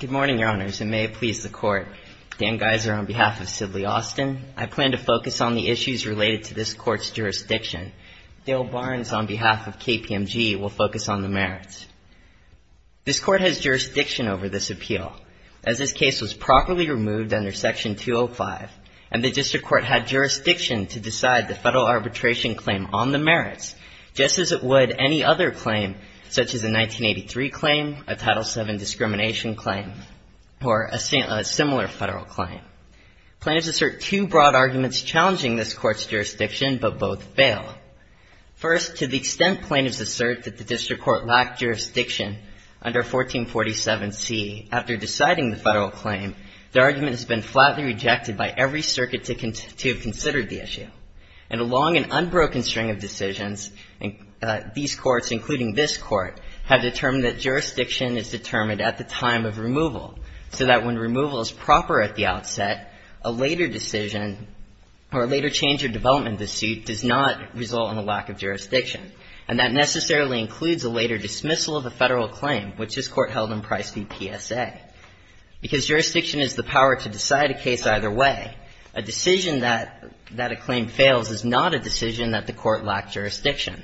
Good morning, Your Honors, and may it please the Court, Dan Geiser on behalf of Sidley Austin, I plan to focus on the issues related to this Court's jurisdiction. Dale Barnes on behalf of KPMG will focus on the merits. This Court has jurisdiction over this appeal, as this case was properly removed under Section 205, and the District Court had jurisdiction to decide the federal arbitration claim on the merits, just as it would any other claim, such as a 1983 claim, a Title VII discrimination claim, or a similar federal claim. Plaintiffs assert two broad arguments challenging this Court's jurisdiction, but both fail. First, to the extent plaintiffs assert that the District Court lacked jurisdiction under 1447c, after deciding the federal claim, the argument has been flatly rejected by every circuit to have considered the issue. And along an unbroken string of decisions, these Courts, including this Court, have determined that jurisdiction is determined at the time of removal, so that when removal is proper at the outset, a later decision or a later change or development of the suit does not result in a lack of jurisdiction. And that necessarily includes a later dismissal of a federal claim, which this Court held in Price v. PSA. Because jurisdiction is the power to decide a case either way, a decision that a claim fails is not a decision that the Court lacked jurisdiction.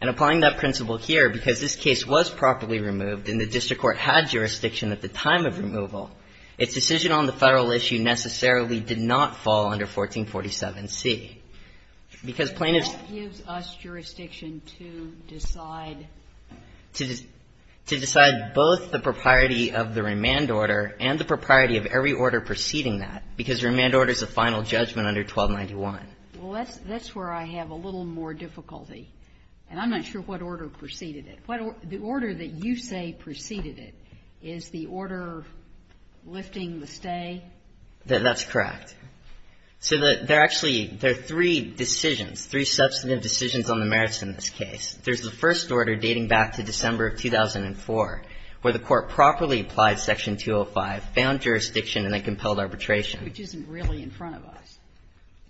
And applying that principle here, because this case was properly removed and the District Court had jurisdiction at the time of removal, its decision on the federal issue necessarily did not fall under 1447c, because plaintiffs ---- Ginsburg. What gives us jurisdiction to decide? Shaheen. To decide both the propriety of the remand order and the propriety of every order preceding that, because the remand order is a final judgment under 1291. Well, that's where I have a little more difficulty. And I'm not sure what order preceded it. The order that you say preceded it, is the order lifting the stay? Shaheen. That's correct. So there are actually three decisions, three substantive decisions on the merits in this case. There's the first order dating back to December of 2004, where the Court properly applied Section 205, found jurisdiction, and then compelled arbitration. Which isn't really in front of us,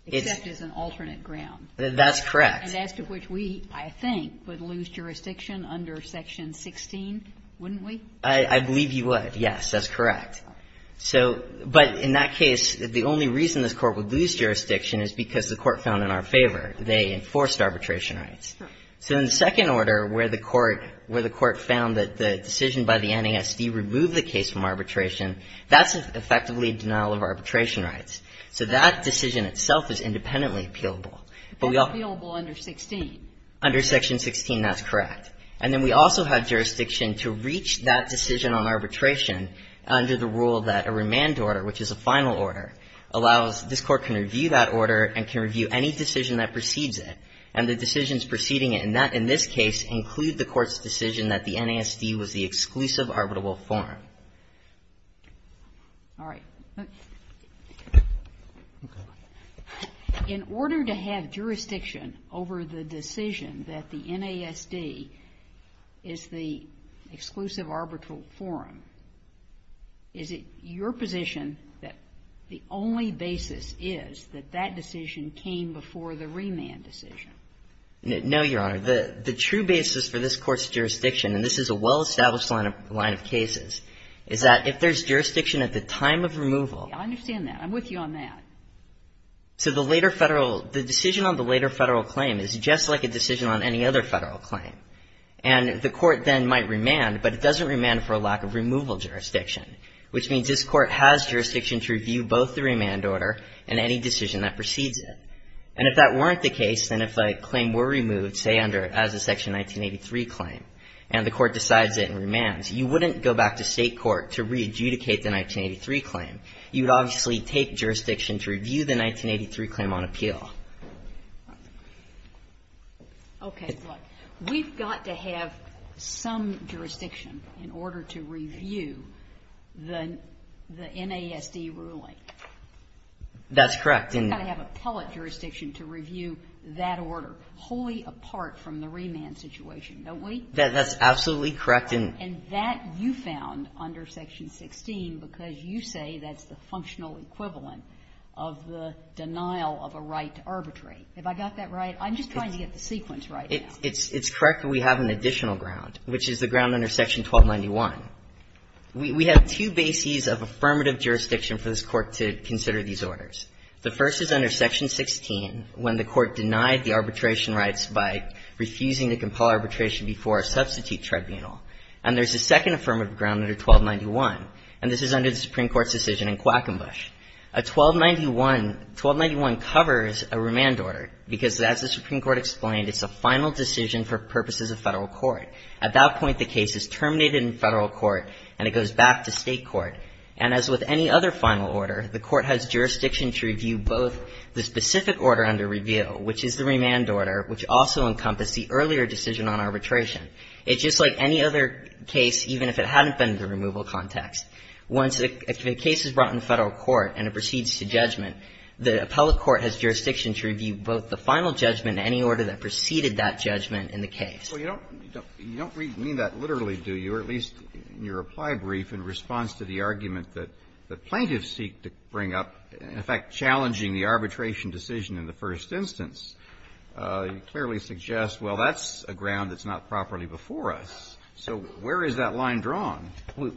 except as an alternate ground. That's correct. And as to which we, I think, would lose jurisdiction under Section 16, wouldn't we? I believe you would, yes. That's correct. So but in that case, the only reason this Court would lose jurisdiction is because the Court found in our favor they enforced arbitration rights. So in the second order, where the Court found that the decision by the NASD removed the case from arbitration, that's effectively a denial of arbitration rights. So that decision itself is independently appealable. But we all — That's appealable under 16. Under Section 16, that's correct. And then we also have jurisdiction to reach that decision on arbitration under the rule that a remand order, which is a final order, allows this Court can review that order and can review any decision that precedes it. And the decisions preceding it in this case include the Court's decision that the NASD is the exclusive arbitral forum. Is it your position that the only basis is that that decision came before the remand decision? No, Your Honor. The true basis for this Court's jurisdiction, and this is a well-established case, is that if there's jurisdiction at the time of removal — I understand that. I'm with you on that. So the later Federal — the decision on the later Federal claim is just like a decision on any other Federal claim. And the Court then might remand, but it doesn't remand for a lack of removal jurisdiction, which means this Court has jurisdiction to review both the remand order and any decision that precedes it. And if that weren't the case, then if a claim were removed, say, under — as a Section 1983 claim, and the Court decides it and remands, you wouldn't go back to State court to re-adjudicate the 1983 claim. You would obviously take jurisdiction to review the 1983 claim on appeal. Okay. But we've got to have some jurisdiction in order to review the — the NASD ruling. That's correct. We've got to have appellate jurisdiction to review that order, wholly apart from the remand situation, don't we? That's absolutely correct. And that you found under Section 16 because you say that's the functional equivalent of the denial of a right to arbitrate. Have I got that right? I'm just trying to get the sequence right. It's correct that we have an additional ground, which is the ground under Section We have two bases of affirmative jurisdiction for this Court to consider these orders. The first is under Section 16, when the Court denied the arbitration rights by refusing to compel arbitration before a substitute tribunal. And there's a second affirmative ground under 1291. And this is under the Supreme Court's decision in Quackenbush. A 1291 — 1291 covers a remand order because, as the Supreme Court explained, it's a final decision for purposes of Federal court. At that point, the case is terminated in Federal court, and it goes back to State court. And as with any other final order, the Court has jurisdiction to review both the specific order under review, which is the remand order, which also encompassed the earlier decision on arbitration. It's just like any other case, even if it hadn't been in the removal context. Once a case is brought in Federal court and it proceeds to judgment, the appellate court has jurisdiction to review both the final judgment and any order that preceded that judgment in the case. Well, you don't mean that literally, do you, or at least in your reply brief, in response to the argument that plaintiffs seek to bring up, in fact, challenging the arbitration decision in the first instance, you clearly suggest, well, that's a ground that's not properly before us. So where is that line drawn?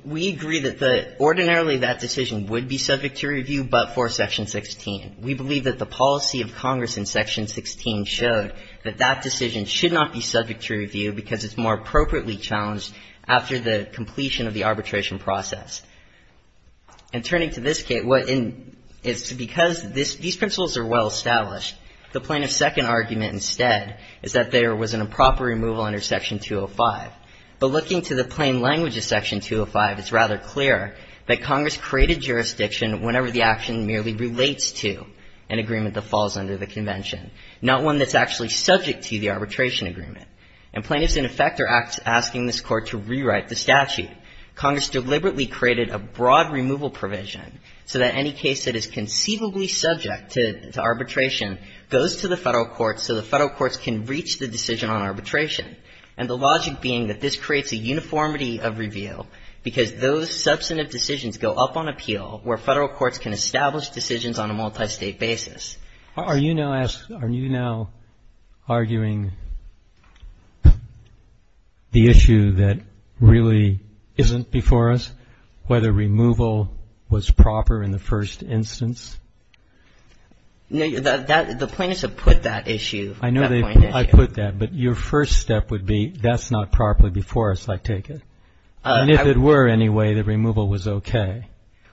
We agree that ordinarily that decision would be subject to review, but for Section 16. We believe that the policy of Congress in Section 16 showed that that decision should not be subject to review because it's more appropriately challenged after the completion of the arbitration process. And turning to this case, it's because these principles are well established. The plaintiff's second argument instead is that there was an improper removal under Section 205, but looking to the plain language of Section 205, it's rather clear that Congress created jurisdiction whenever the action merely relates to an agreement that is subject to arbitration. And plaintiffs, in effect, are asking this Court to rewrite the statute. Congress deliberately created a broad removal provision so that any case that is conceivably subject to arbitration goes to the federal courts so the federal courts can reach the decision on arbitration. And the logic being that this creates a uniformity of review because those substantive decisions go up on appeal where federal courts can establish decisions on a multistate basis. Are you now arguing the issue that really isn't before us, whether removal was proper in the first instance? The plaintiffs have put that issue. I know I put that, but your first step would be that's not properly before us, I take it. And if it were anyway, the removal was okay.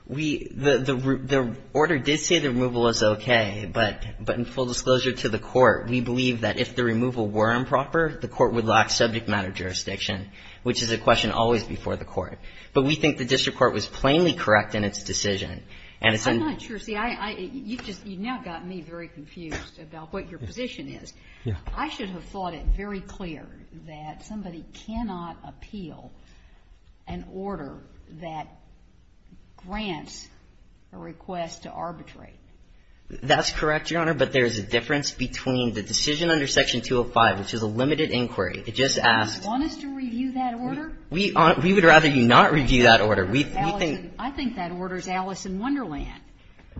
The order did say the removal was okay, but in full disclosure to the Court, we believe that if the removal were improper, the Court would lock subject matter jurisdiction, which is a question always before the Court. But we think the district court was plainly correct in its decision. I'm not sure. You've now gotten me very confused about what your position is. I should have thought it very clear that somebody cannot appeal an order that grants a request to arbitrate. That's correct, Your Honor, but there's a difference between the decision under Section 205, which is a limited inquiry. It just asks. Do you want us to review that order? We would rather you not review that order. I think that order is Alice in Wonderland.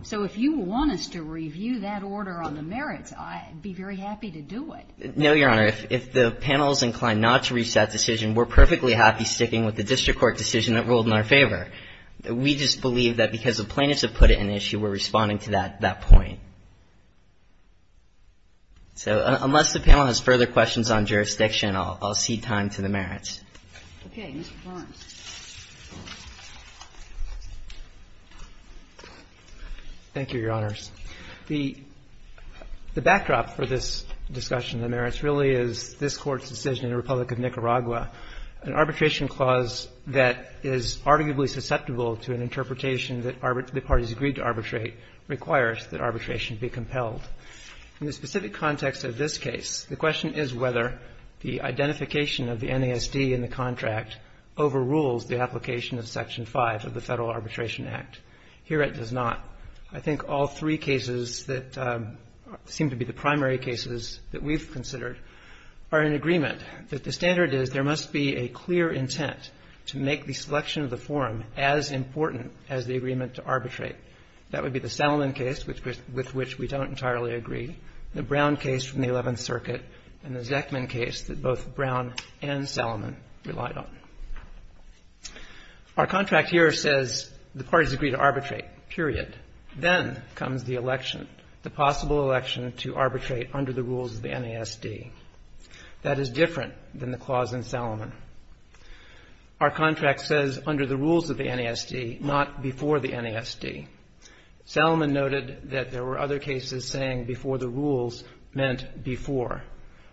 So if you want us to review that order on the merits, I'd be very happy to do it. No, Your Honor. If the panel is inclined not to reach that decision, we're perfectly happy sticking with the district court decision that ruled in our favor. We just believe that because the plaintiffs have put it in issue, we're responding to that point. So unless the panel has further questions on jurisdiction, I'll cede time to the merits. Okay. Mr. Barnes. Thank you, Your Honors. The backdrop for this discussion of the merits really is this Court's decision in the Republic of Nicaragua. An arbitration clause that is arguably susceptible to an interpretation that the parties agreed to arbitrate requires that arbitration be compelled. In the specific context of this case, the question is whether the identification of the NASD in the contract overrules the application of Section 5 of the Federal Arbitration Act. Here it does not. I think all three cases that seem to be the primary cases that we've considered are in agreement that the standard is there must be a clear intent to make the selection of the forum as important as the agreement to arbitrate. That would be the Salomon case, with which we don't entirely agree, the Brown case from the 11th Circuit, and the Zeckman case that both Brown and Salomon relied on. Our contract here says the parties agree to arbitrate, period. Then comes the election, the possible election to arbitrate under the rules of the NASD. That is different than the clause in Salomon. Our contract says under the rules of the NASD, not before the NASD. Salomon noted that there were other cases saying before the rules meant before.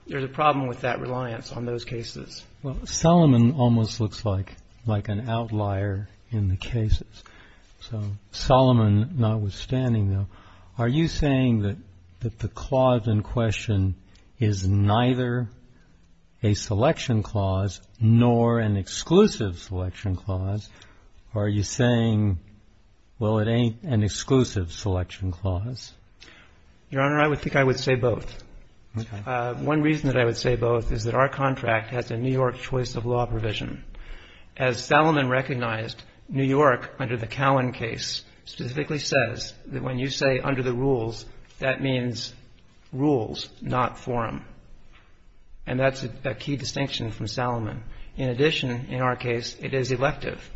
There's a problem with that reliance on those cases. Well, Salomon almost looks like an outlier in the cases. So, Salomon, notwithstanding, though, are you saying that the clause in question is neither a selection clause nor an exclusive selection clause? Or are you saying, well, it ain't an exclusive selection clause? Your Honor, I would think I would say both. One reason that I would say both is that our contract has a New York choice of law provision. As Salomon recognized, New York, under the Cowan case, specifically says that when you say under the rules, that means rules, not forum. And that's a key distinction from Salomon. In addition, in our case, it is elective.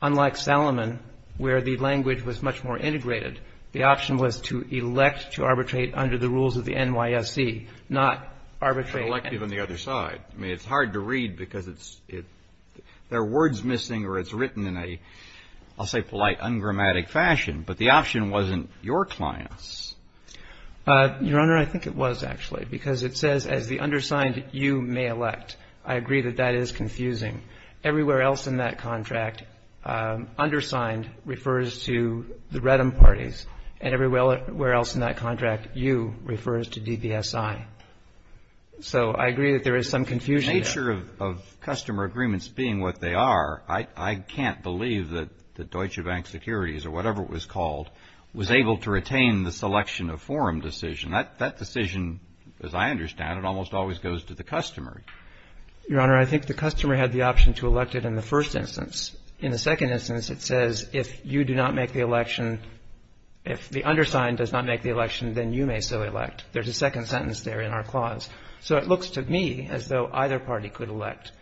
Unlike Salomon, where the language was much more integrated, the option was to elect to arbitrate under the rules of the NYSE, not arbitrate. It's not elective on the other side. I mean, it's hard to read because it's – there are words missing or it's written in a, I'll say, polite, ungrammatic fashion. But the option wasn't your client's. Your Honor, I think it was, actually. Because it says, as the undersigned, you may elect. I agree that that is confusing. Everywhere else in that contract, undersigned refers to the REDM parties. And everywhere else in that contract, you refers to DBSI. So I agree that there is some confusion. The nature of customer agreements being what they are, I can't believe that Deutsche Bank Securities, or whatever it was called, was able to retain the selection of forum decision. That decision, as I understand it, almost always goes to the customer. Your Honor, I think the customer had the option to elect it in the first instance. In the second instance, it says, if you do not make the election, if the undersigned does not make the election, then you may so elect. There's a second sentence there in our clause. So it looks to me as though either party could elect.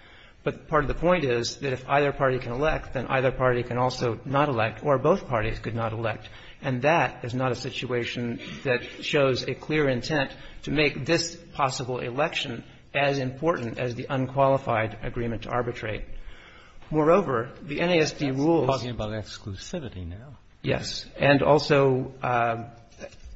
But part of the point is that if either party can elect, then either party can also not elect, or both parties could not elect. And that is not a situation that shows a clear intent to make this possible election as important as the unqualified agreement to arbitrate. Moreover, the NASD rules... We're talking about exclusivity now. Yes, and also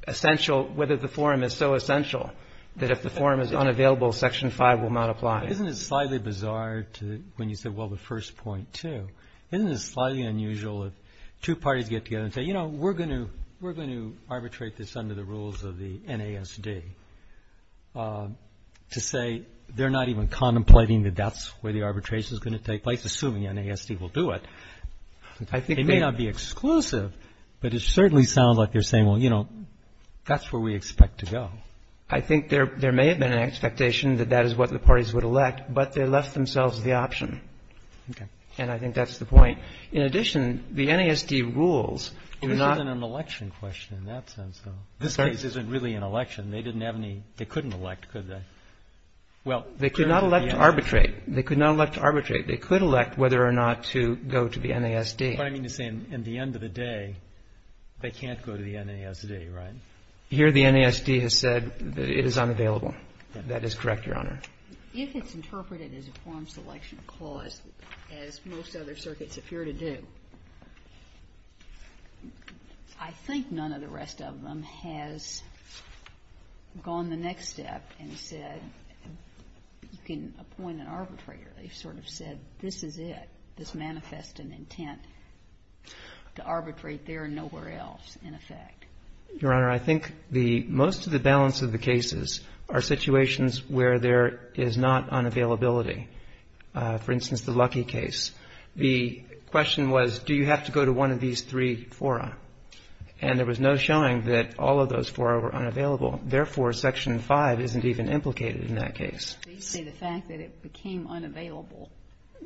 essential, whether the forum is so essential that if the forum is unavailable, Section 5 will not apply. Isn't it slightly bizarre to, when you say, well, the first point too, isn't it slightly unusual if two parties get together and say, you know, we're going to arbitrate this under the rules of the NASD, to say they're not even contemplating that that's where the arbitration is going to take place, assuming the NASD will do it. I think they... It may not be exclusive, but it certainly sounds like you're saying, well, you know, that's where we expect to go. I think there may have been an expectation that that is what the parties would elect, but they left themselves the option. Okay. And I think that's the point. In addition, the NASD rules do not... This isn't an election question in that sense, though. This case isn't really an election. They didn't have any, they couldn't elect, could they? Well... They could not elect to arbitrate. They could not elect to arbitrate. They could elect whether or not to go to the NASD. But I mean to say, at the end of the day, they can't go to the NASD, right? Here the NASD has said that it is unavailable. That is correct, Your Honor. If it's interpreted as a form selection clause, as most other circuits appear to do, I think none of the rest of them has gone the next step and said, you can appoint an arbitrator. They've sort of said, this is it. This manifests an intent to arbitrate there and nowhere else, in effect. Your Honor, I think the most of the balance of the cases are situations where there is not unavailability. For instance, the Luckey case. The question was, do you have to go to one of these three fora? And there was no showing that all of those fora were unavailable. Therefore, Section 5 isn't even implicated in that case. They say the fact that it became unavailable.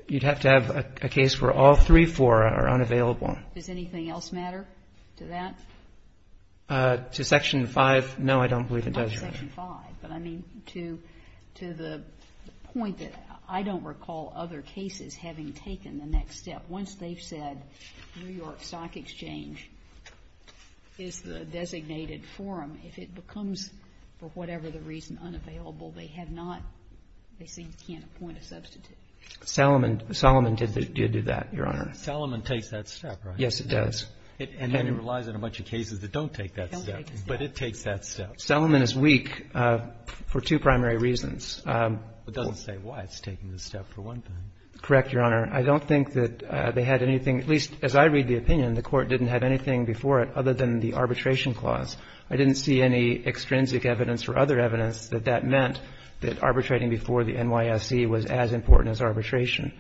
You'd have to have a case where all three fora are unavailable. Does anything else matter to that? No, I don't believe it does, Your Honor. But I mean, to the point that I don't recall other cases having taken the next step. Once they've said New York Stock Exchange is the designated forum, if it becomes for whatever the reason unavailable, they have not, they seem to can't appoint a substitute. Salomon did do that, Your Honor. Salomon takes that step, right? Yes, it does. And then it relies on a bunch of cases that don't take that step. Don't take that step. But it takes that step. Salomon is weak for two primary reasons. It doesn't say why it's taking the step, for one thing. Correct, Your Honor. I don't think that they had anything, at least as I read the opinion, the Court didn't have anything before it other than the arbitration clause. I didn't see any extrinsic evidence or other evidence that that meant that arbitrating before the NYSC was as important as arbitration.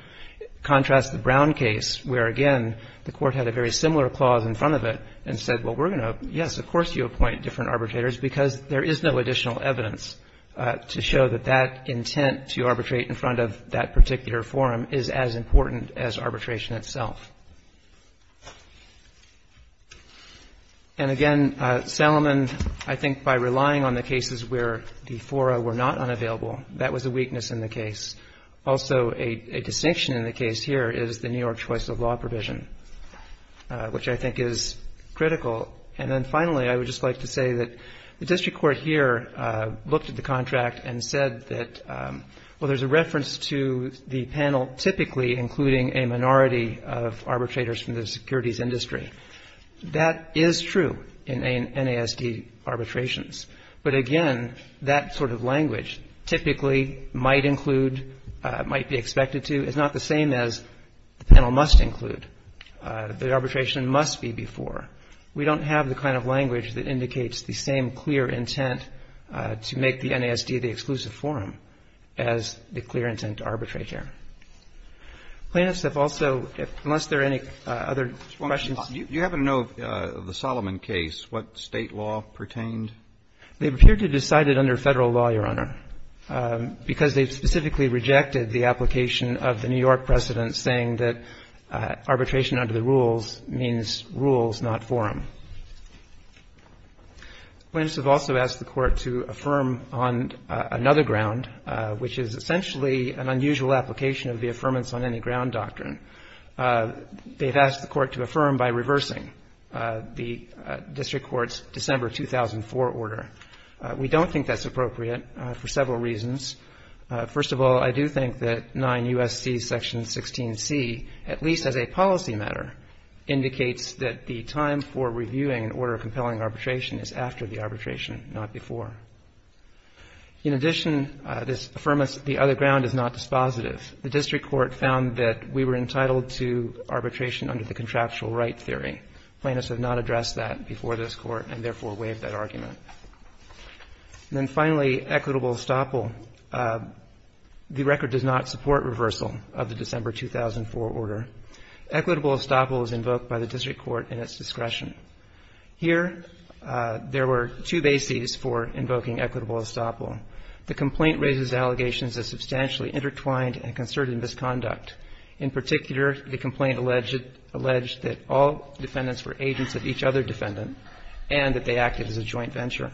Contrast the Brown case where, again, the Court had a very similar clause in front of it and said, well, we're going to, yes, of course you appoint different because there is no additional evidence to show that that intent to arbitrate in front of that particular forum is as important as arbitration itself. And again, Salomon, I think by relying on the cases where the fora were not unavailable, that was a weakness in the case. Also, a distinction in the case here is the New York choice of law provision, which I think is critical. And then finally, I would just like to say that the district court here looked at the contract and said that, well, there's a reference to the panel typically including a minority of arbitrators from the securities industry. That is true in NASD arbitrations. But again, that sort of language, typically might include, might be expected to, is not the same as the panel must include. The arbitration must be before. We don't have the kind of language that indicates the same clear intent to make the NASD the exclusive forum as the clear intent to arbitrate here. Plaintiffs have also, unless there are any other questions. You happen to know the Salomon case, what State law pertained? They appear to have decided under Federal law, Your Honor, because they specifically rejected the application of the New York precedent saying that arbitration under the rules means rules, not forum. Plaintiffs have also asked the court to affirm on another ground, which is essentially an unusual application of the affirmance on any ground doctrine. They've asked the court to affirm by reversing the district court's December 2004 order. We don't think that's appropriate for several reasons. First of all, I do think that 9 U.S.C. Section 16C, at least as a policy matter, indicates that the time for reviewing an order of compelling arbitration is after the arbitration, not before. In addition, this affirmance of the other ground is not dispositive. The district court found that we were entitled to arbitration under the contraptual right theory. Plaintiffs have not addressed that before this court and therefore waived that argument. And then finally, equitable estoppel. The record does not support reversal of the December 2004 order. Equitable estoppel is invoked by the district court in its discretion. Here, there were two bases for invoking equitable estoppel. The complaint raises allegations of substantially intertwined and concerted misconduct. In particular, the complaint alleged that all defendants were agents of each other defendant and that they acted as a joint venture.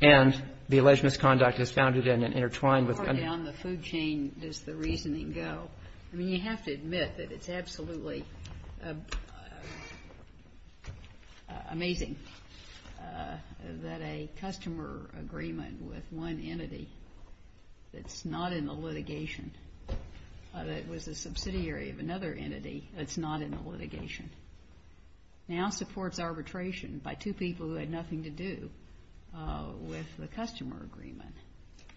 And the alleged misconduct is founded in and intertwined with- How far down the food chain does the reasoning go? I mean, you have to admit that it's absolutely amazing that a customer agreement with one entity that's not in the litigation but it was a subsidiary of another entity that's not in the litigation now supports arbitration by two people who had nothing to do with the customer agreement.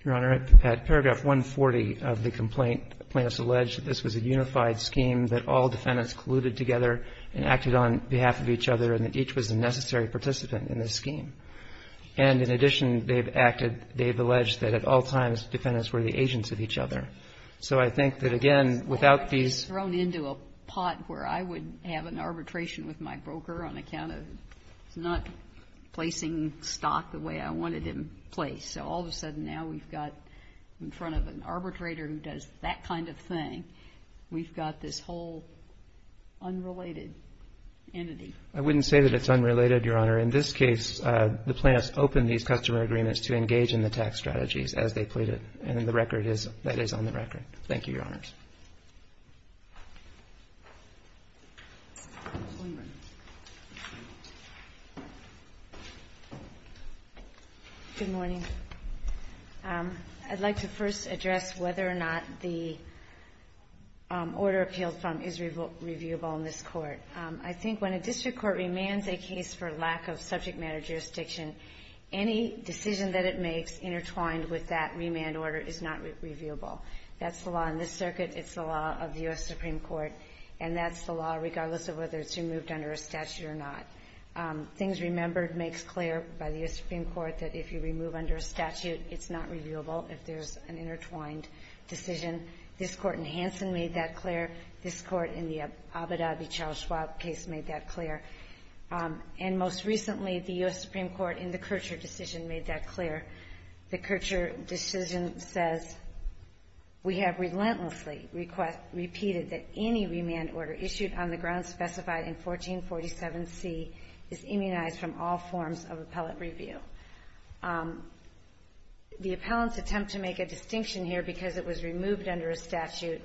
Your Honor, at paragraph 140 of the complaint, plaintiffs allege that this was a unified scheme, that all defendants colluded together and acted on behalf of each other and that each was a necessary participant in this scheme. And in addition, they've acted, they've alleged that at all times defendants were the agents of each other. So I think that again, without these- I was in arbitration with my broker on account of not placing stock the way I wanted it placed. So all of a sudden now we've got in front of an arbitrator who does that kind of thing, we've got this whole unrelated entity. I wouldn't say that it's unrelated, Your Honor. In this case, the plaintiffs opened these customer agreements to engage in the tax strategies as they pleaded. And the record is- that is on the record. Thank you, Your Honors. Ms. Lindgren. Good morning. I'd like to first address whether or not the order appealed from is reviewable in this court. I think when a district court remands a case for lack of subject matter jurisdiction, any decision that it makes intertwined with that remand order is not reviewable. That's the law in this circuit. It's the law of the U.S. Supreme Court. And that's the law regardless of whether it's removed under a statute or not. Things Remembered makes clear by the U.S. Supreme Court that if you remove under a statute, it's not reviewable if there's an intertwined decision. This court in Hanson made that clear. This court in the Abu Dhabi Charles Schwab case made that clear. And most recently, the U.S. Supreme Court in the Kircher decision made that clear. The Kircher decision says, We have relentlessly repeated that any remand order issued on the grounds specified in 1447C is immunized from all forms of appellate review. The appellants attempt to make a distinction here because it was removed under a statute,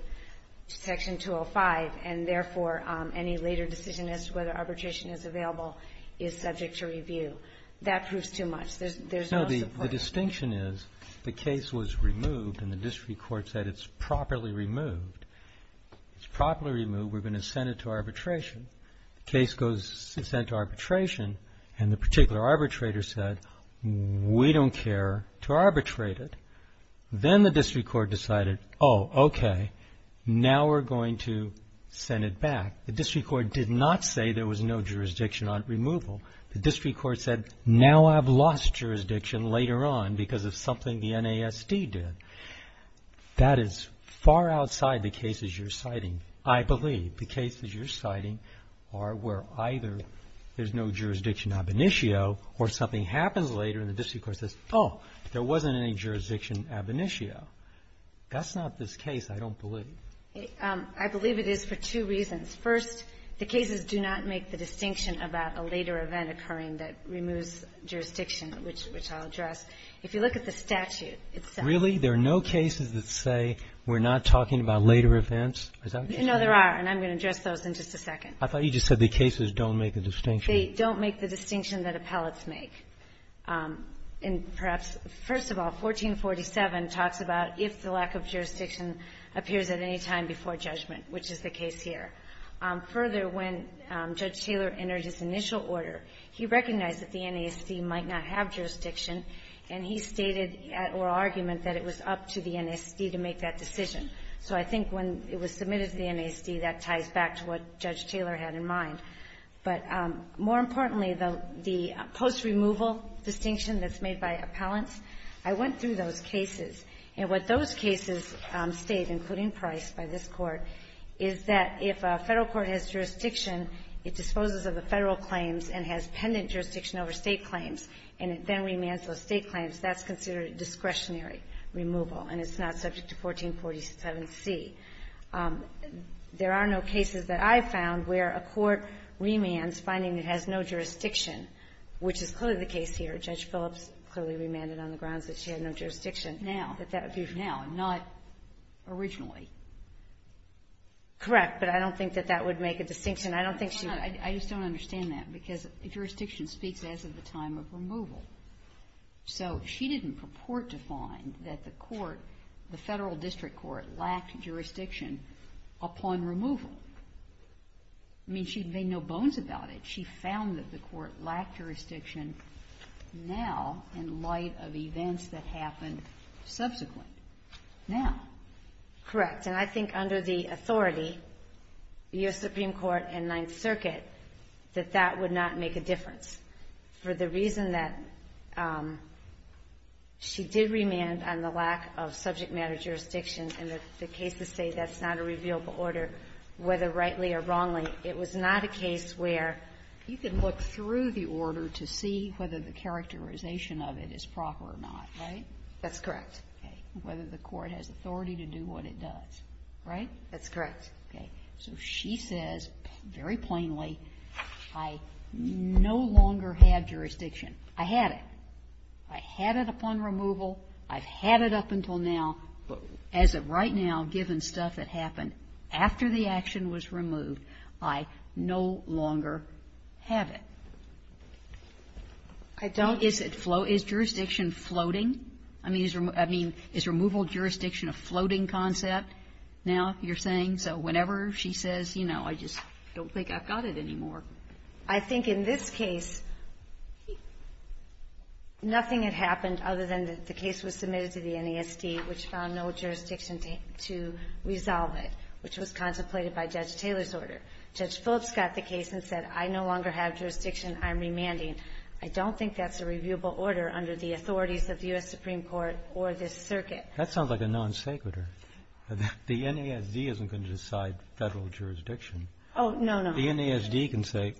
Section 205, and therefore, any later decision as to whether arbitration is available is subject to review. That proves too much. No, the distinction is the case was removed and the district court said it's properly removed. It's properly removed. We're going to send it to arbitration. The case goes sent to arbitration and the particular arbitrator said, We don't care to arbitrate it. Then the district court decided, Oh, okay, now we're going to send it back. The district court did not say there was no jurisdiction on removal. The district court said, Now I've lost jurisdiction later on because of something the NASD did. That is far outside the cases you're citing. I believe the cases you're citing are where either there's no jurisdiction ab initio or something happens later and the district court says, Oh, there wasn't any jurisdiction ab initio. That's not this case, I don't believe. I believe it is for two reasons. First, the cases do not make the distinction about a later event occurring that removes jurisdiction, which I'll address. If you look at the statute, it says Really? There are no cases that say we're not talking about later events? No, there are. And I'm going to address those in just a second. I thought you just said the cases don't make the distinction. They don't make the distinction that appellates make. And perhaps, first of all, 1447 talks about if the lack of jurisdiction appears at any time before judgment, which is the case here. Further, when Judge Taylor entered his initial order, he recognized that the NASD might not have jurisdiction and he stated at oral argument that it was up to the NASD to make that decision. So I think when it was submitted to the NASD, that ties back to what Judge Taylor had in mind. But more importantly, the post-removal distinction that's made by appellants, I went through those cases. And what those cases state, including Price by this Court, is that if a Federal court has jurisdiction, it disposes of the Federal claims and has pendant jurisdiction over State claims, and it then remands those State claims, that's considered discretionary removal and it's not subject to 1447C. There are no cases that I've found where a court remands finding it has no jurisdiction, which is clearly the case here. But Judge Phillips clearly remanded on the grounds that she had no jurisdiction now, that that would be now and not originally. Correct, but I don't think that that would make a distinction. I don't think she would. I just don't understand that, because jurisdiction speaks as of the time of removal. So she didn't purport to find that the court, the Federal district court, lacked jurisdiction upon removal. I mean, she made no bones about it. She found that the court lacked jurisdiction now in light of events that happened subsequent. Now. Correct. And I think under the authority, the U.S. Supreme Court and Ninth Circuit, that that would not make a difference. For the reason that she did remand on the lack of subject matter jurisdiction and the cases say that's not a revealable order, whether rightly or wrongly, it was not a case where you could look through the order to see whether the characterization of it is proper or not, right? That's correct. Okay. Whether the court has authority to do what it does, right? That's correct. Okay. So she says very plainly, I no longer have jurisdiction. I had it. I had it upon removal. I've had it up until now. But as of right now, given stuff that happened after the action was removed, I no longer have it. I don't. Is jurisdiction floating? I mean, is removal jurisdiction a floating concept now, you're saying? So whenever she says, you know, I just don't think I've got it anymore. I think in this case, nothing had happened other than the case was submitted to the NASD, which found no jurisdiction to resolve it, which was contemplated by Judge Taylor's order. Judge Phillips got the case and said, I no longer have jurisdiction. I'm remanding. I don't think that's a reviewable order under the authorities of the U.S. Supreme Court or this circuit. That sounds like a non-sequitur. The NASD isn't going to decide federal jurisdiction. Oh, no, no. The NASD can say,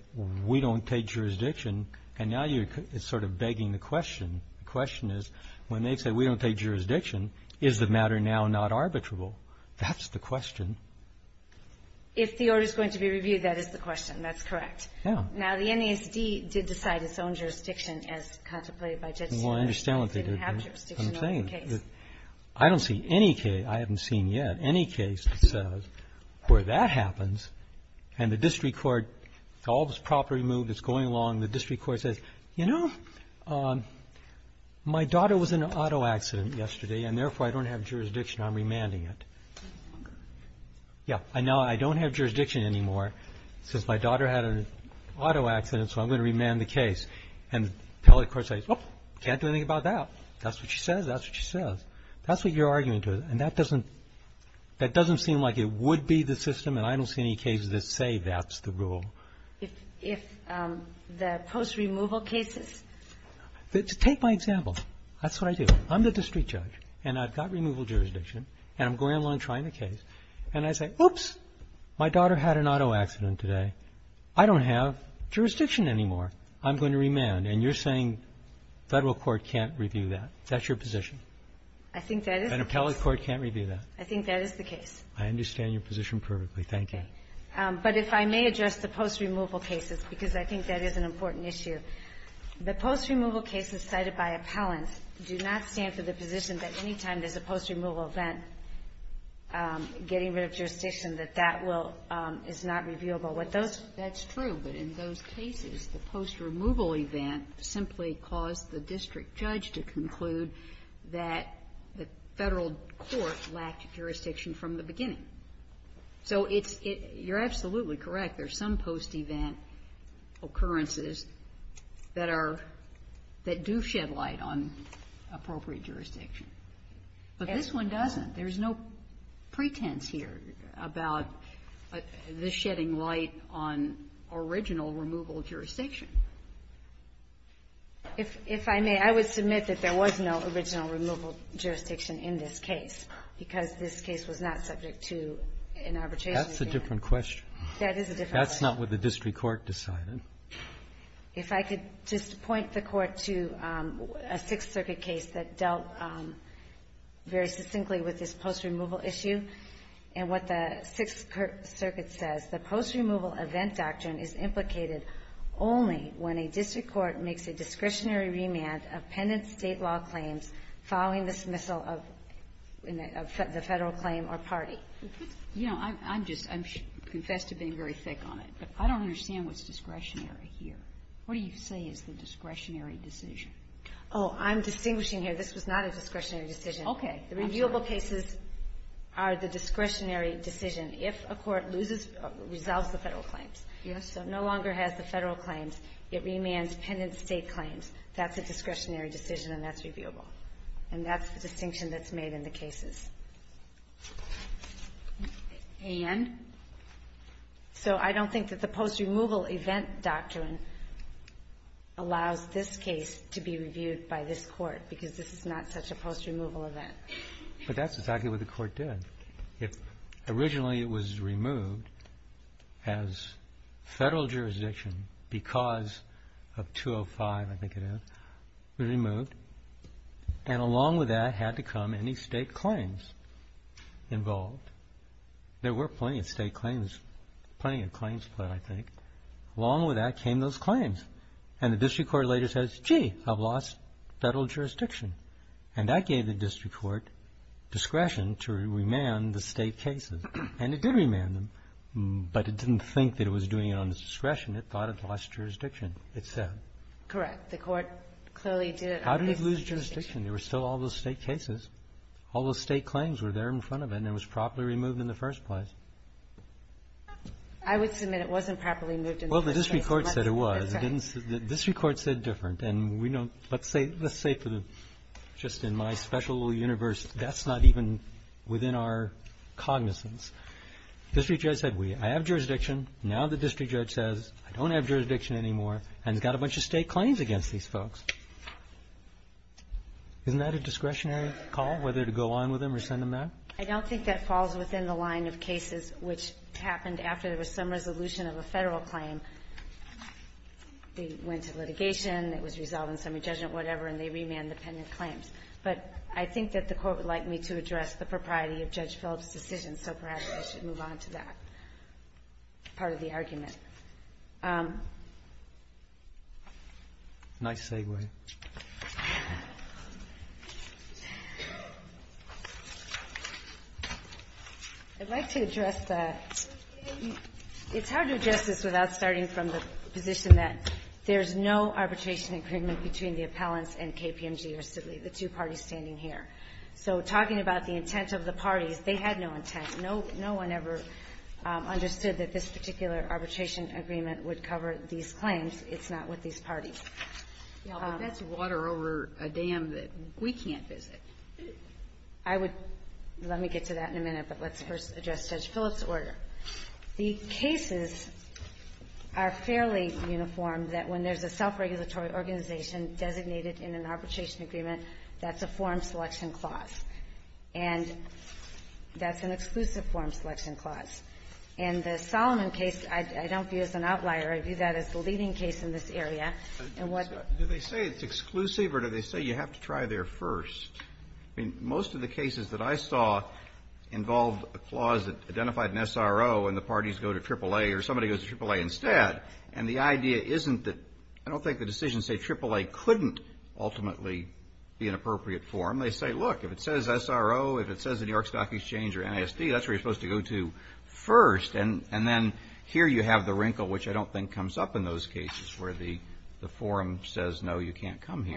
we don't take jurisdiction. And now you're sort of begging the question. The question is, when they say we don't take jurisdiction, is the matter now not arbitrable? That's the question. If the order is going to be reviewed, that is the question. That's correct. Now, the NASD did decide its own jurisdiction as contemplated by Judge Taylor. Well, I understand what they did. They didn't have jurisdiction over the case. I don't see any case, I haven't seen yet, any case that says where that happens and the district court, all this property moved, it's going along, the district court says, you know, my daughter was in an auto accident yesterday and therefore I don't have jurisdiction. I'm remanding it. Yeah, I know I don't have jurisdiction anymore since my daughter had an auto accident so I'm going to remand the case. And the appellate court says, well, can't do anything about that. That's what she says. That's what she says. That's what you're arguing to. And that doesn't, that doesn't seem like it would be the system and I don't see any cases that say that's the rule. If, if, the post-removal cases? Take my example. That's what I do. I'm the district judge and I've got removal jurisdiction and I'm going along trying the case and I say, oops, my daughter had an auto accident today. I don't have jurisdiction anymore. I'm going to remand. And you're saying federal court can't review that. That's your position. I think that is. An appellate court can't review that. I think that is the case. I understand your position perfectly. Thank you. But if I may address the post-removal cases because I think that is an important issue. The post-removal cases cited by appellants do not stand for the position that any time there's a post-removal event getting rid of jurisdiction that that will, is not reviewable. With those. That's true. But in those cases the post-removal event simply caused the district judge to conclude that the federal court lacked jurisdiction from the beginning. So it's, you're absolutely correct. There's some post-event occurrences that are, that do shed light on appropriate jurisdiction. But this one doesn't. There's no pretense here about the shedding light on original removal jurisdiction. If I may, I would submit that there was no original removal jurisdiction in this case because this case was not subject to an arbitration. That's a different question. That is a different question. That's not what the district court decided. If I could just point the court to a Sixth Circuit case that dealt very succinctly with this post-removal issue and what the Sixth Circuit says, the post-removal event doctrine is implicated only when a district court makes a discretionary remand of penitent state law claims following the dismissal of the federal claim or party. You know, I'm just, I confess to being very thick on it, but I don't understand what's discretionary here. What do you say is the discretionary decision? Oh, I'm distinguishing here. This was not a discretionary decision. Okay. The reviewable cases are the discretionary decision. If a court loses or resolves the federal claims, so no longer has the federal claims, it remands penitent state claims. That's a discretionary decision, and that's reviewable. And that's the distinction that's made in the cases. And? So, I don't think that the post-removal event doctrine allows this case to be reviewed by this court, because this is not such a post-removal event. But that's exactly what the court did. Originally, it was removed as federal jurisdiction, because of 205, I think it is. It was removed, and along with that had to come any state claims involved. There were plenty of state claims, plenty of claims, but I think along with that came those claims. And the district court later says, gee, I've lost federal jurisdiction. And that gave the district court discretion to remand the state cases. And it did remand them, but it didn't think that it was doing it on its discretion. It thought it lost jurisdiction, it said. Correct. The court clearly did it on its discretion. How did it lose jurisdiction? There were still all those state cases. All those state claims were there in front of it, and it was properly removed in the first place. I would submit it wasn't properly moved in the first place. Well, the district court said it was. The district court said different. Let's say just in my special universe that's not even within our cognizance. The district judge said, I have jurisdiction. Now the district judge says, I don't have jurisdiction anymore, and has got a bunch of state claims against these folks. Isn't that a discretionary call, whether to go on with them or send them out? I don't think that falls within the line of cases which happened after there was some resolution of a Federal claim. They went to litigation, it was resolved in summary judgment, whatever, and they remanded the pendant claims. But I think that the Court would like me to address the propriety of Judge Phillips' decision, so perhaps I should move on to that part of the argument. Nice segue. I'd like to address the It's hard to address this without starting from the position that there's no arbitration agreement between the appellants and KPMG or Sidley, the two parties standing here. So talking about the intent of the parties, they had no intent. No one ever understood that this particular arbitration agreement would cover these claims. It's not with these parties. Yeah, but that's water over a dam that we can't visit. I would let me get to that in a minute, but let's first address Judge Phillips' order. The cases are fairly uniform that when there's a self-regulatory organization designated in an arbitration agreement, that's a form selection clause. And that's an exclusive form selection clause. And the Solomon case, I don't view as an outlier. I view that as the leading case in this area. Do they say it's exclusive or do they say you have to try there first? I mean, most of the cases that I saw involved a clause that identified an SRO and the parties go to AAA or somebody goes to AAA instead. And the idea isn't that, I don't think the decisions say AAA couldn't ultimately be an appropriate form. They say, look, if it says SRO, if it says the New York Stock Exchange or NASD, that's where you're supposed to go to first. And then here you have the wrinkle, which I don't think comes up in those cases where the I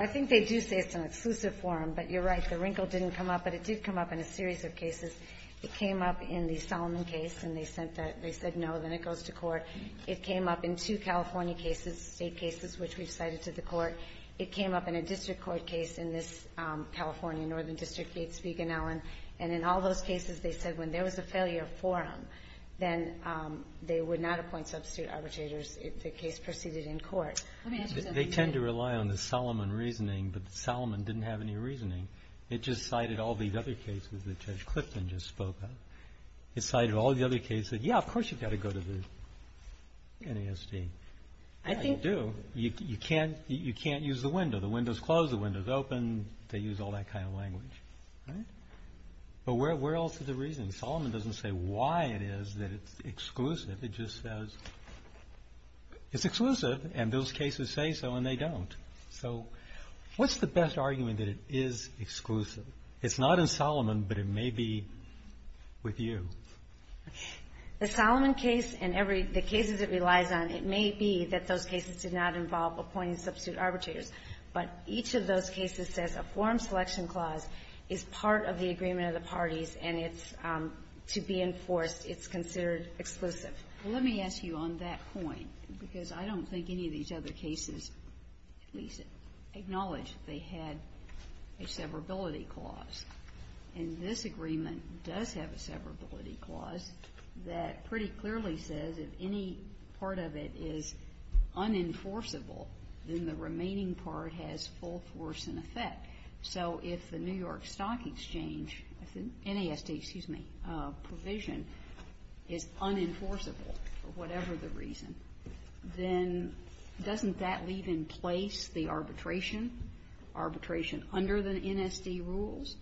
think they do say it's an exclusive form, but you're right, the wrinkle didn't come up, but it did come up in a series of cases. It came up in the Solomon case, and they said no, then it goes to court. It came up in two California cases, state cases, which we've cited to the court. It came up in a district court case in this California northern district case, Spiegel and Allen. And in all those cases, they said when there was a failure form, then they would not appoint substitute arbitrators if the case proceeded in court. They tend to rely on the Solomon reasoning, but Solomon didn't have any reasoning. It just cited all the other cases that Judge Clifton just spoke of. It cited all the other cases that, yeah, of course you've got to go to the NASD. Yeah, you do. You can't use the window. The window's closed. The window's open. They use all that kind of language. But where else is the reasoning? Solomon doesn't say why it is that it's exclusive. It just says it's exclusive, and those cases say so, and they don't. So what's the best argument that it is exclusive? It's not in Solomon, but it may be with you. The Solomon case and every the cases it relies on, it may be that those cases did not involve appointing substitute arbitrators. But each of those cases says a form selection clause is part of the agreement of the parties, and it's to be enforced. It's considered exclusive. Let me ask you on that point, because I don't think any of these other cases acknowledge they had a severability clause. And this agreement does have a severability clause that pretty clearly says if any part of it is unenforceable, then the remaining part has full force and effect. So if the New York Stock Exchange NASD, excuse me, provision is unenforceable for whatever the reason, then doesn't that leave in place the arbitration? Arbitration under the NASD rules?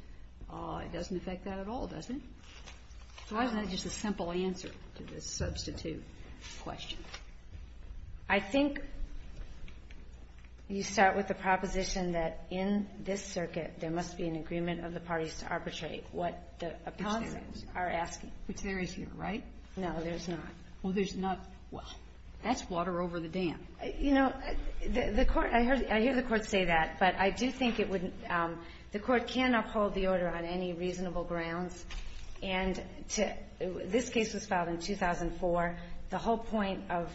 It doesn't affect that at all, does it? So why isn't that just a simple answer to this substitute question? I think you start with the proposition that in this circuit, there must be an agreement of the parties to arbitrate what the appellants are asking. Which there is here, right? No, there's not. Well, that's water over the dam. You know, I hear the Court say that, but I do think the Court can uphold the order on any reasonable grounds. And this case was filed in 2004. The whole point of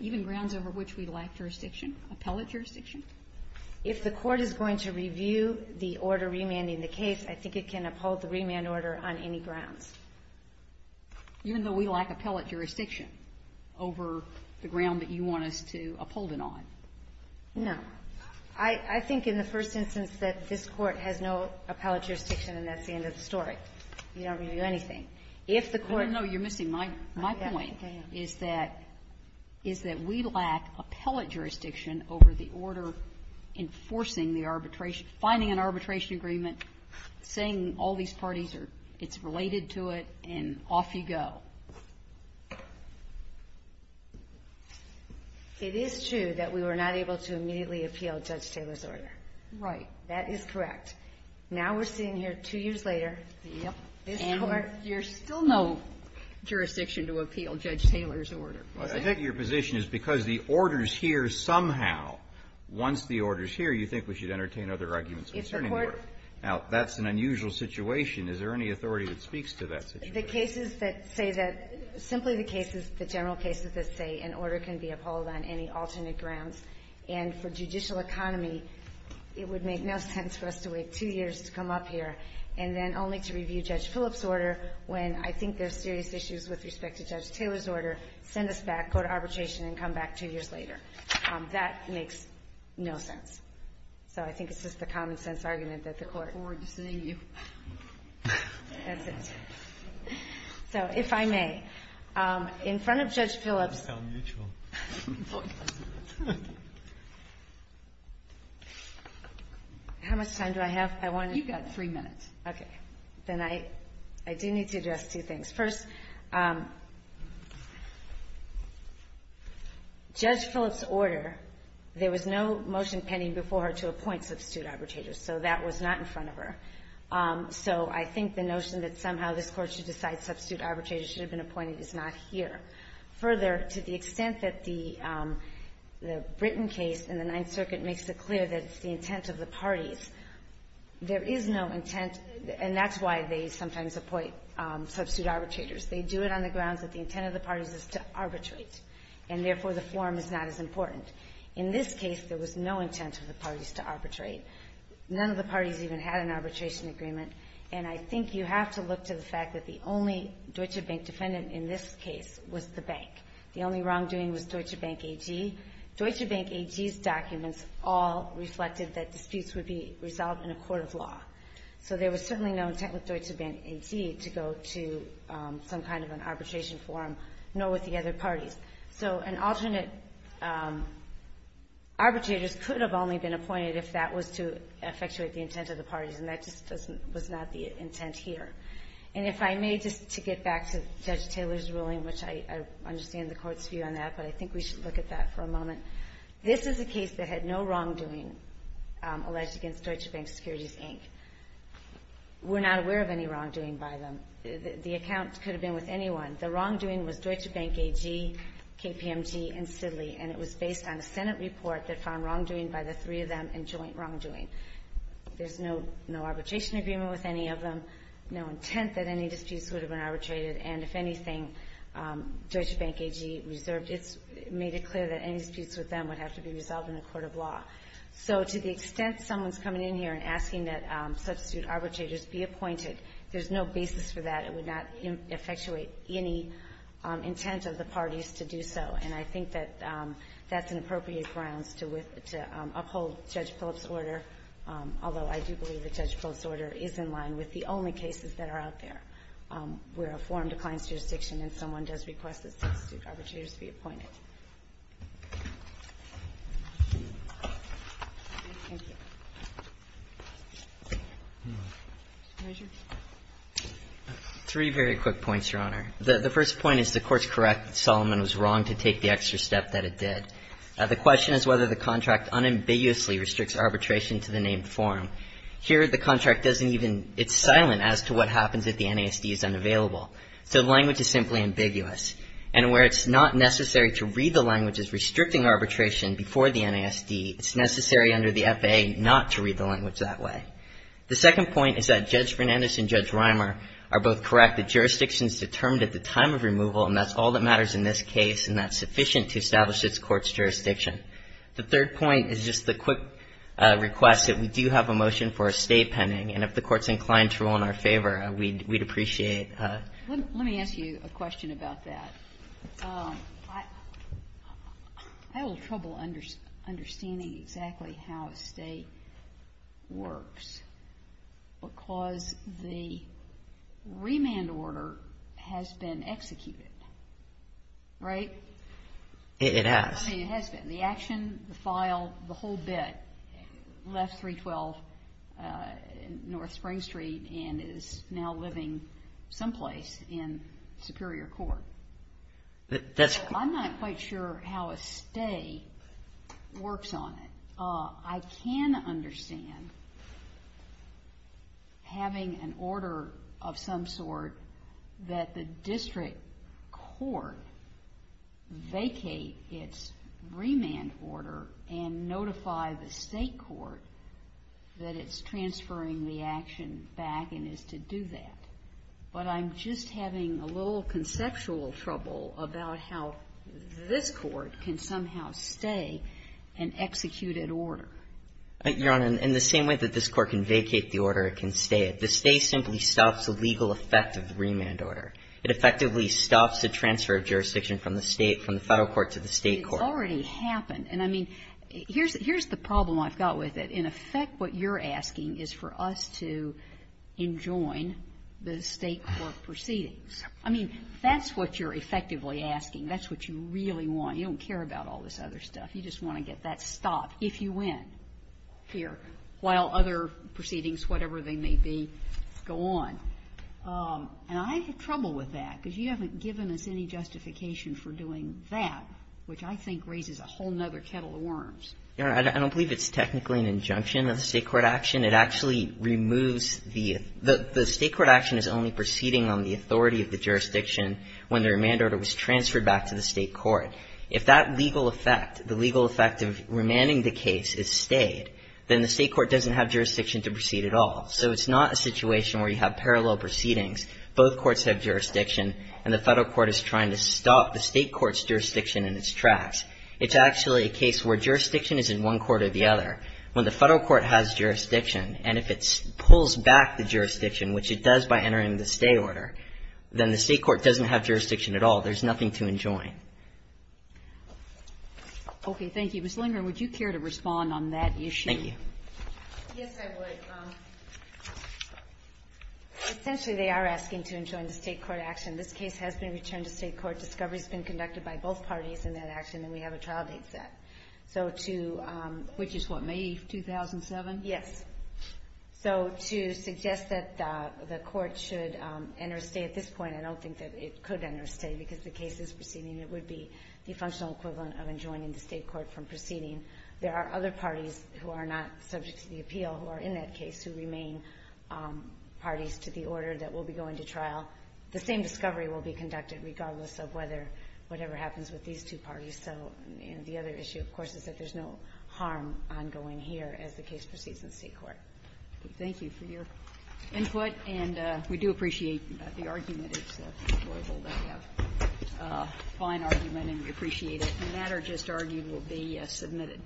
even grounds over which we lack jurisdiction, appellate jurisdiction, if the Court is going to review the order remanding the case, I think it can uphold the remand order on any grounds. Even though we lack appellate jurisdiction over the ground that you want us to uphold it on? No. I think in the first instance that this Court has no appellate jurisdiction and that's the end of the story. We don't review anything. You're missing my point. Is that we lack appellate jurisdiction over the order enforcing finding an arbitration agreement saying all these parties it's related to it and off you go. It is true that we were not able to immediately appeal Judge Taylor's order. Right. That is correct. Now we're sitting here two years later. There's still no jurisdiction to appeal Judge Taylor's order. I think your position is because the order's here somehow once the order's here you think we should entertain other arguments concerning the order. Now that's an unusual situation. Is there any authority that speaks to that situation? The cases that say that simply the cases, the general cases that say an order can be upheld on any alternate grounds and for judicial economy it would make no sense for us to wait two years to come up here and then only to review Judge Phillips' order when I think there's serious issues with respect to Judge Taylor's order send us back, go to arbitration and come back two years later. That makes no sense. So I think it's just a common sense argument that the court forward to seeing you. That's it. So if I may in front of Judge Phillips How much time do I have? You've got three minutes. Okay. Then I do need to address two things. First Judge Phillips' order there was no motion pending before her to appoint substitute arbitrators so that was not in front of her. So I think the notion that somehow this court should decide substitute arbitrators should have been appointed is not here. Further, to the extent that the Britain case in the Ninth Circuit makes it clear that it's the intent of the parties there is no intent and that's why they sometimes appoint substitute arbitrators. They do it on the grounds that the intent of the parties is to arbitrate and therefore the form is not as important. In this case there was no intent of the parties to arbitrate. None of the parties even had an arbitration agreement and I think you have to look to the fact that the only Deutsche Bank defendant in this case was the bank. The only wrongdoing was Deutsche Bank AG. Deutsche Bank AG's documents all reflected that disputes would be resolved in a court of law. So there was certainly no intent with Deutsche Bank AG to go to some kind of an arbitration forum nor with the other parties. So an alternate arbitrators could have only been appointed if that was to effectuate the intent of the parties and that just was not the intent here. And if I may just to get back to Judge Taylor's ruling which I understand the court's view on that but I think we should look at that for a moment. This is a case that had no wrongdoing alleged against Deutsche Bank Securities Inc. We're not aware of any The account could have been with anyone. The wrongdoing was Deutsche Bank AG, KPMG, and Sidley and it was based on a Senate report that found wrongdoing by the three of them and joint wrongdoing. There's no arbitration agreement with any of them, no intent that any disputes would have been arbitrated and if anything, Deutsche Bank AG made it clear that any disputes with them would have to be resolved in a court of law. So to the extent someone's coming in here and asking that substitute arbitrators be appointed there's no basis for that. It would not effectuate any intent of the parties to do so and I think that that's an appropriate grounds to uphold Judge Phillips' order although I do believe that Judge Phillips' order is in line with the only cases that are out there where a form declines jurisdiction and someone does request that substitute arbitrators be appointed. Thank you. Three very quick points, Your Honor. The first point is the Court's correct that Solomon was wrong to take the extra step that it did. The question is whether the contract unambiguously restricts arbitration to the named form. Here the contract doesn't even it's silent as to what happens if the NASD is unavailable. So the language is simply ambiguous and where it's not necessary to read the language as restricting arbitration before the NASD, it's necessary under the FAA to restrict not to read the language that way. The second point is that Judge Fernandez and Judge Rimer are both correct that jurisdiction is determined at the time of removal and that's all that matters in this case and that's sufficient to establish its Court's jurisdiction. The third point is just the quick request that we do have a motion for a State pending and if the Court's inclined to rule in our favor, we'd appreciate Let me ask you a question about that. I have a little trouble understanding exactly how a State works because the remand order has been executed. Right? It has. The action, the file, the whole bit left 312 North Spring Street and is now living someplace in Superior Court. I'm not quite sure how a State works on it. I can understand having an order of some sort that the District Court vacate its remand order and notify the State Court that it's transferring the action back and is to do that. But I'm just having a little conceptual trouble about how this Court can somehow stay and execute an order. Your Honor, in the same way that this Court can vacate the order, it can stay. The State simply stops the legal effect of the remand order. It effectively stops the transfer of jurisdiction from the State, from the Federal Court, to the State Court. It's already happened. Here's the problem I've got with it. In effect, what you're asking is for us to enjoin the State Court proceedings. I mean, that's what you're effectively asking. That's what you really want. You don't care about all this other stuff. You just want to get that stopped if you win here, while other proceedings, whatever they may be, go on. And I have trouble with that, because you haven't given us any justification for doing that, which I think raises a whole other kettle of worms. Your Honor, I don't believe it's technically an injunction of the State Court action. It actually removes the State Court action is only proceeding on the authority of the jurisdiction when the remand order was transferred back to the State Court. If that legal effect, the legal effect of remanding the case is stayed, then the State Court doesn't have jurisdiction to proceed at all. So it's not a situation where you have parallel proceedings. Both courts have jurisdiction, and the Federal Court is trying to stop the State Court's jurisdiction in its tracks. It's actually a case where jurisdiction is in one court or the other. When the Federal Court has jurisdiction, and if it pulls back the jurisdiction, which it does by entering the stay order, then the State Court doesn't have jurisdiction at all. There's nothing to enjoin. Okay, thank you. Ms. Lindgren, would you care to respond on that issue? Thank you. Yes, I would. Essentially, they are asking to enjoin the State Court action. This case has been returned to State Court. Discovery has been conducted by both parties in that action, and we have a trial date set. So to which is what, May 2007? Yes. So to suggest that the Court should enter a stay at this point, I don't think that it could enter a stay because the case is proceeding. It would be the functional equivalent of enjoining the State Court from proceeding. There are other parties who are not subject to the appeal who are in that case who remain parties to the order that will be going to trial. The same discovery will be conducted regardless of whether whatever happens with these two parties. So the other issue, of course, is that there's no harm ongoing here as the case proceeds in State Court. Thank you for your input, and we do appreciate the argument. It's admirable that you have a fine argument, and we appreciate it. And that, or just argued, will be submitted.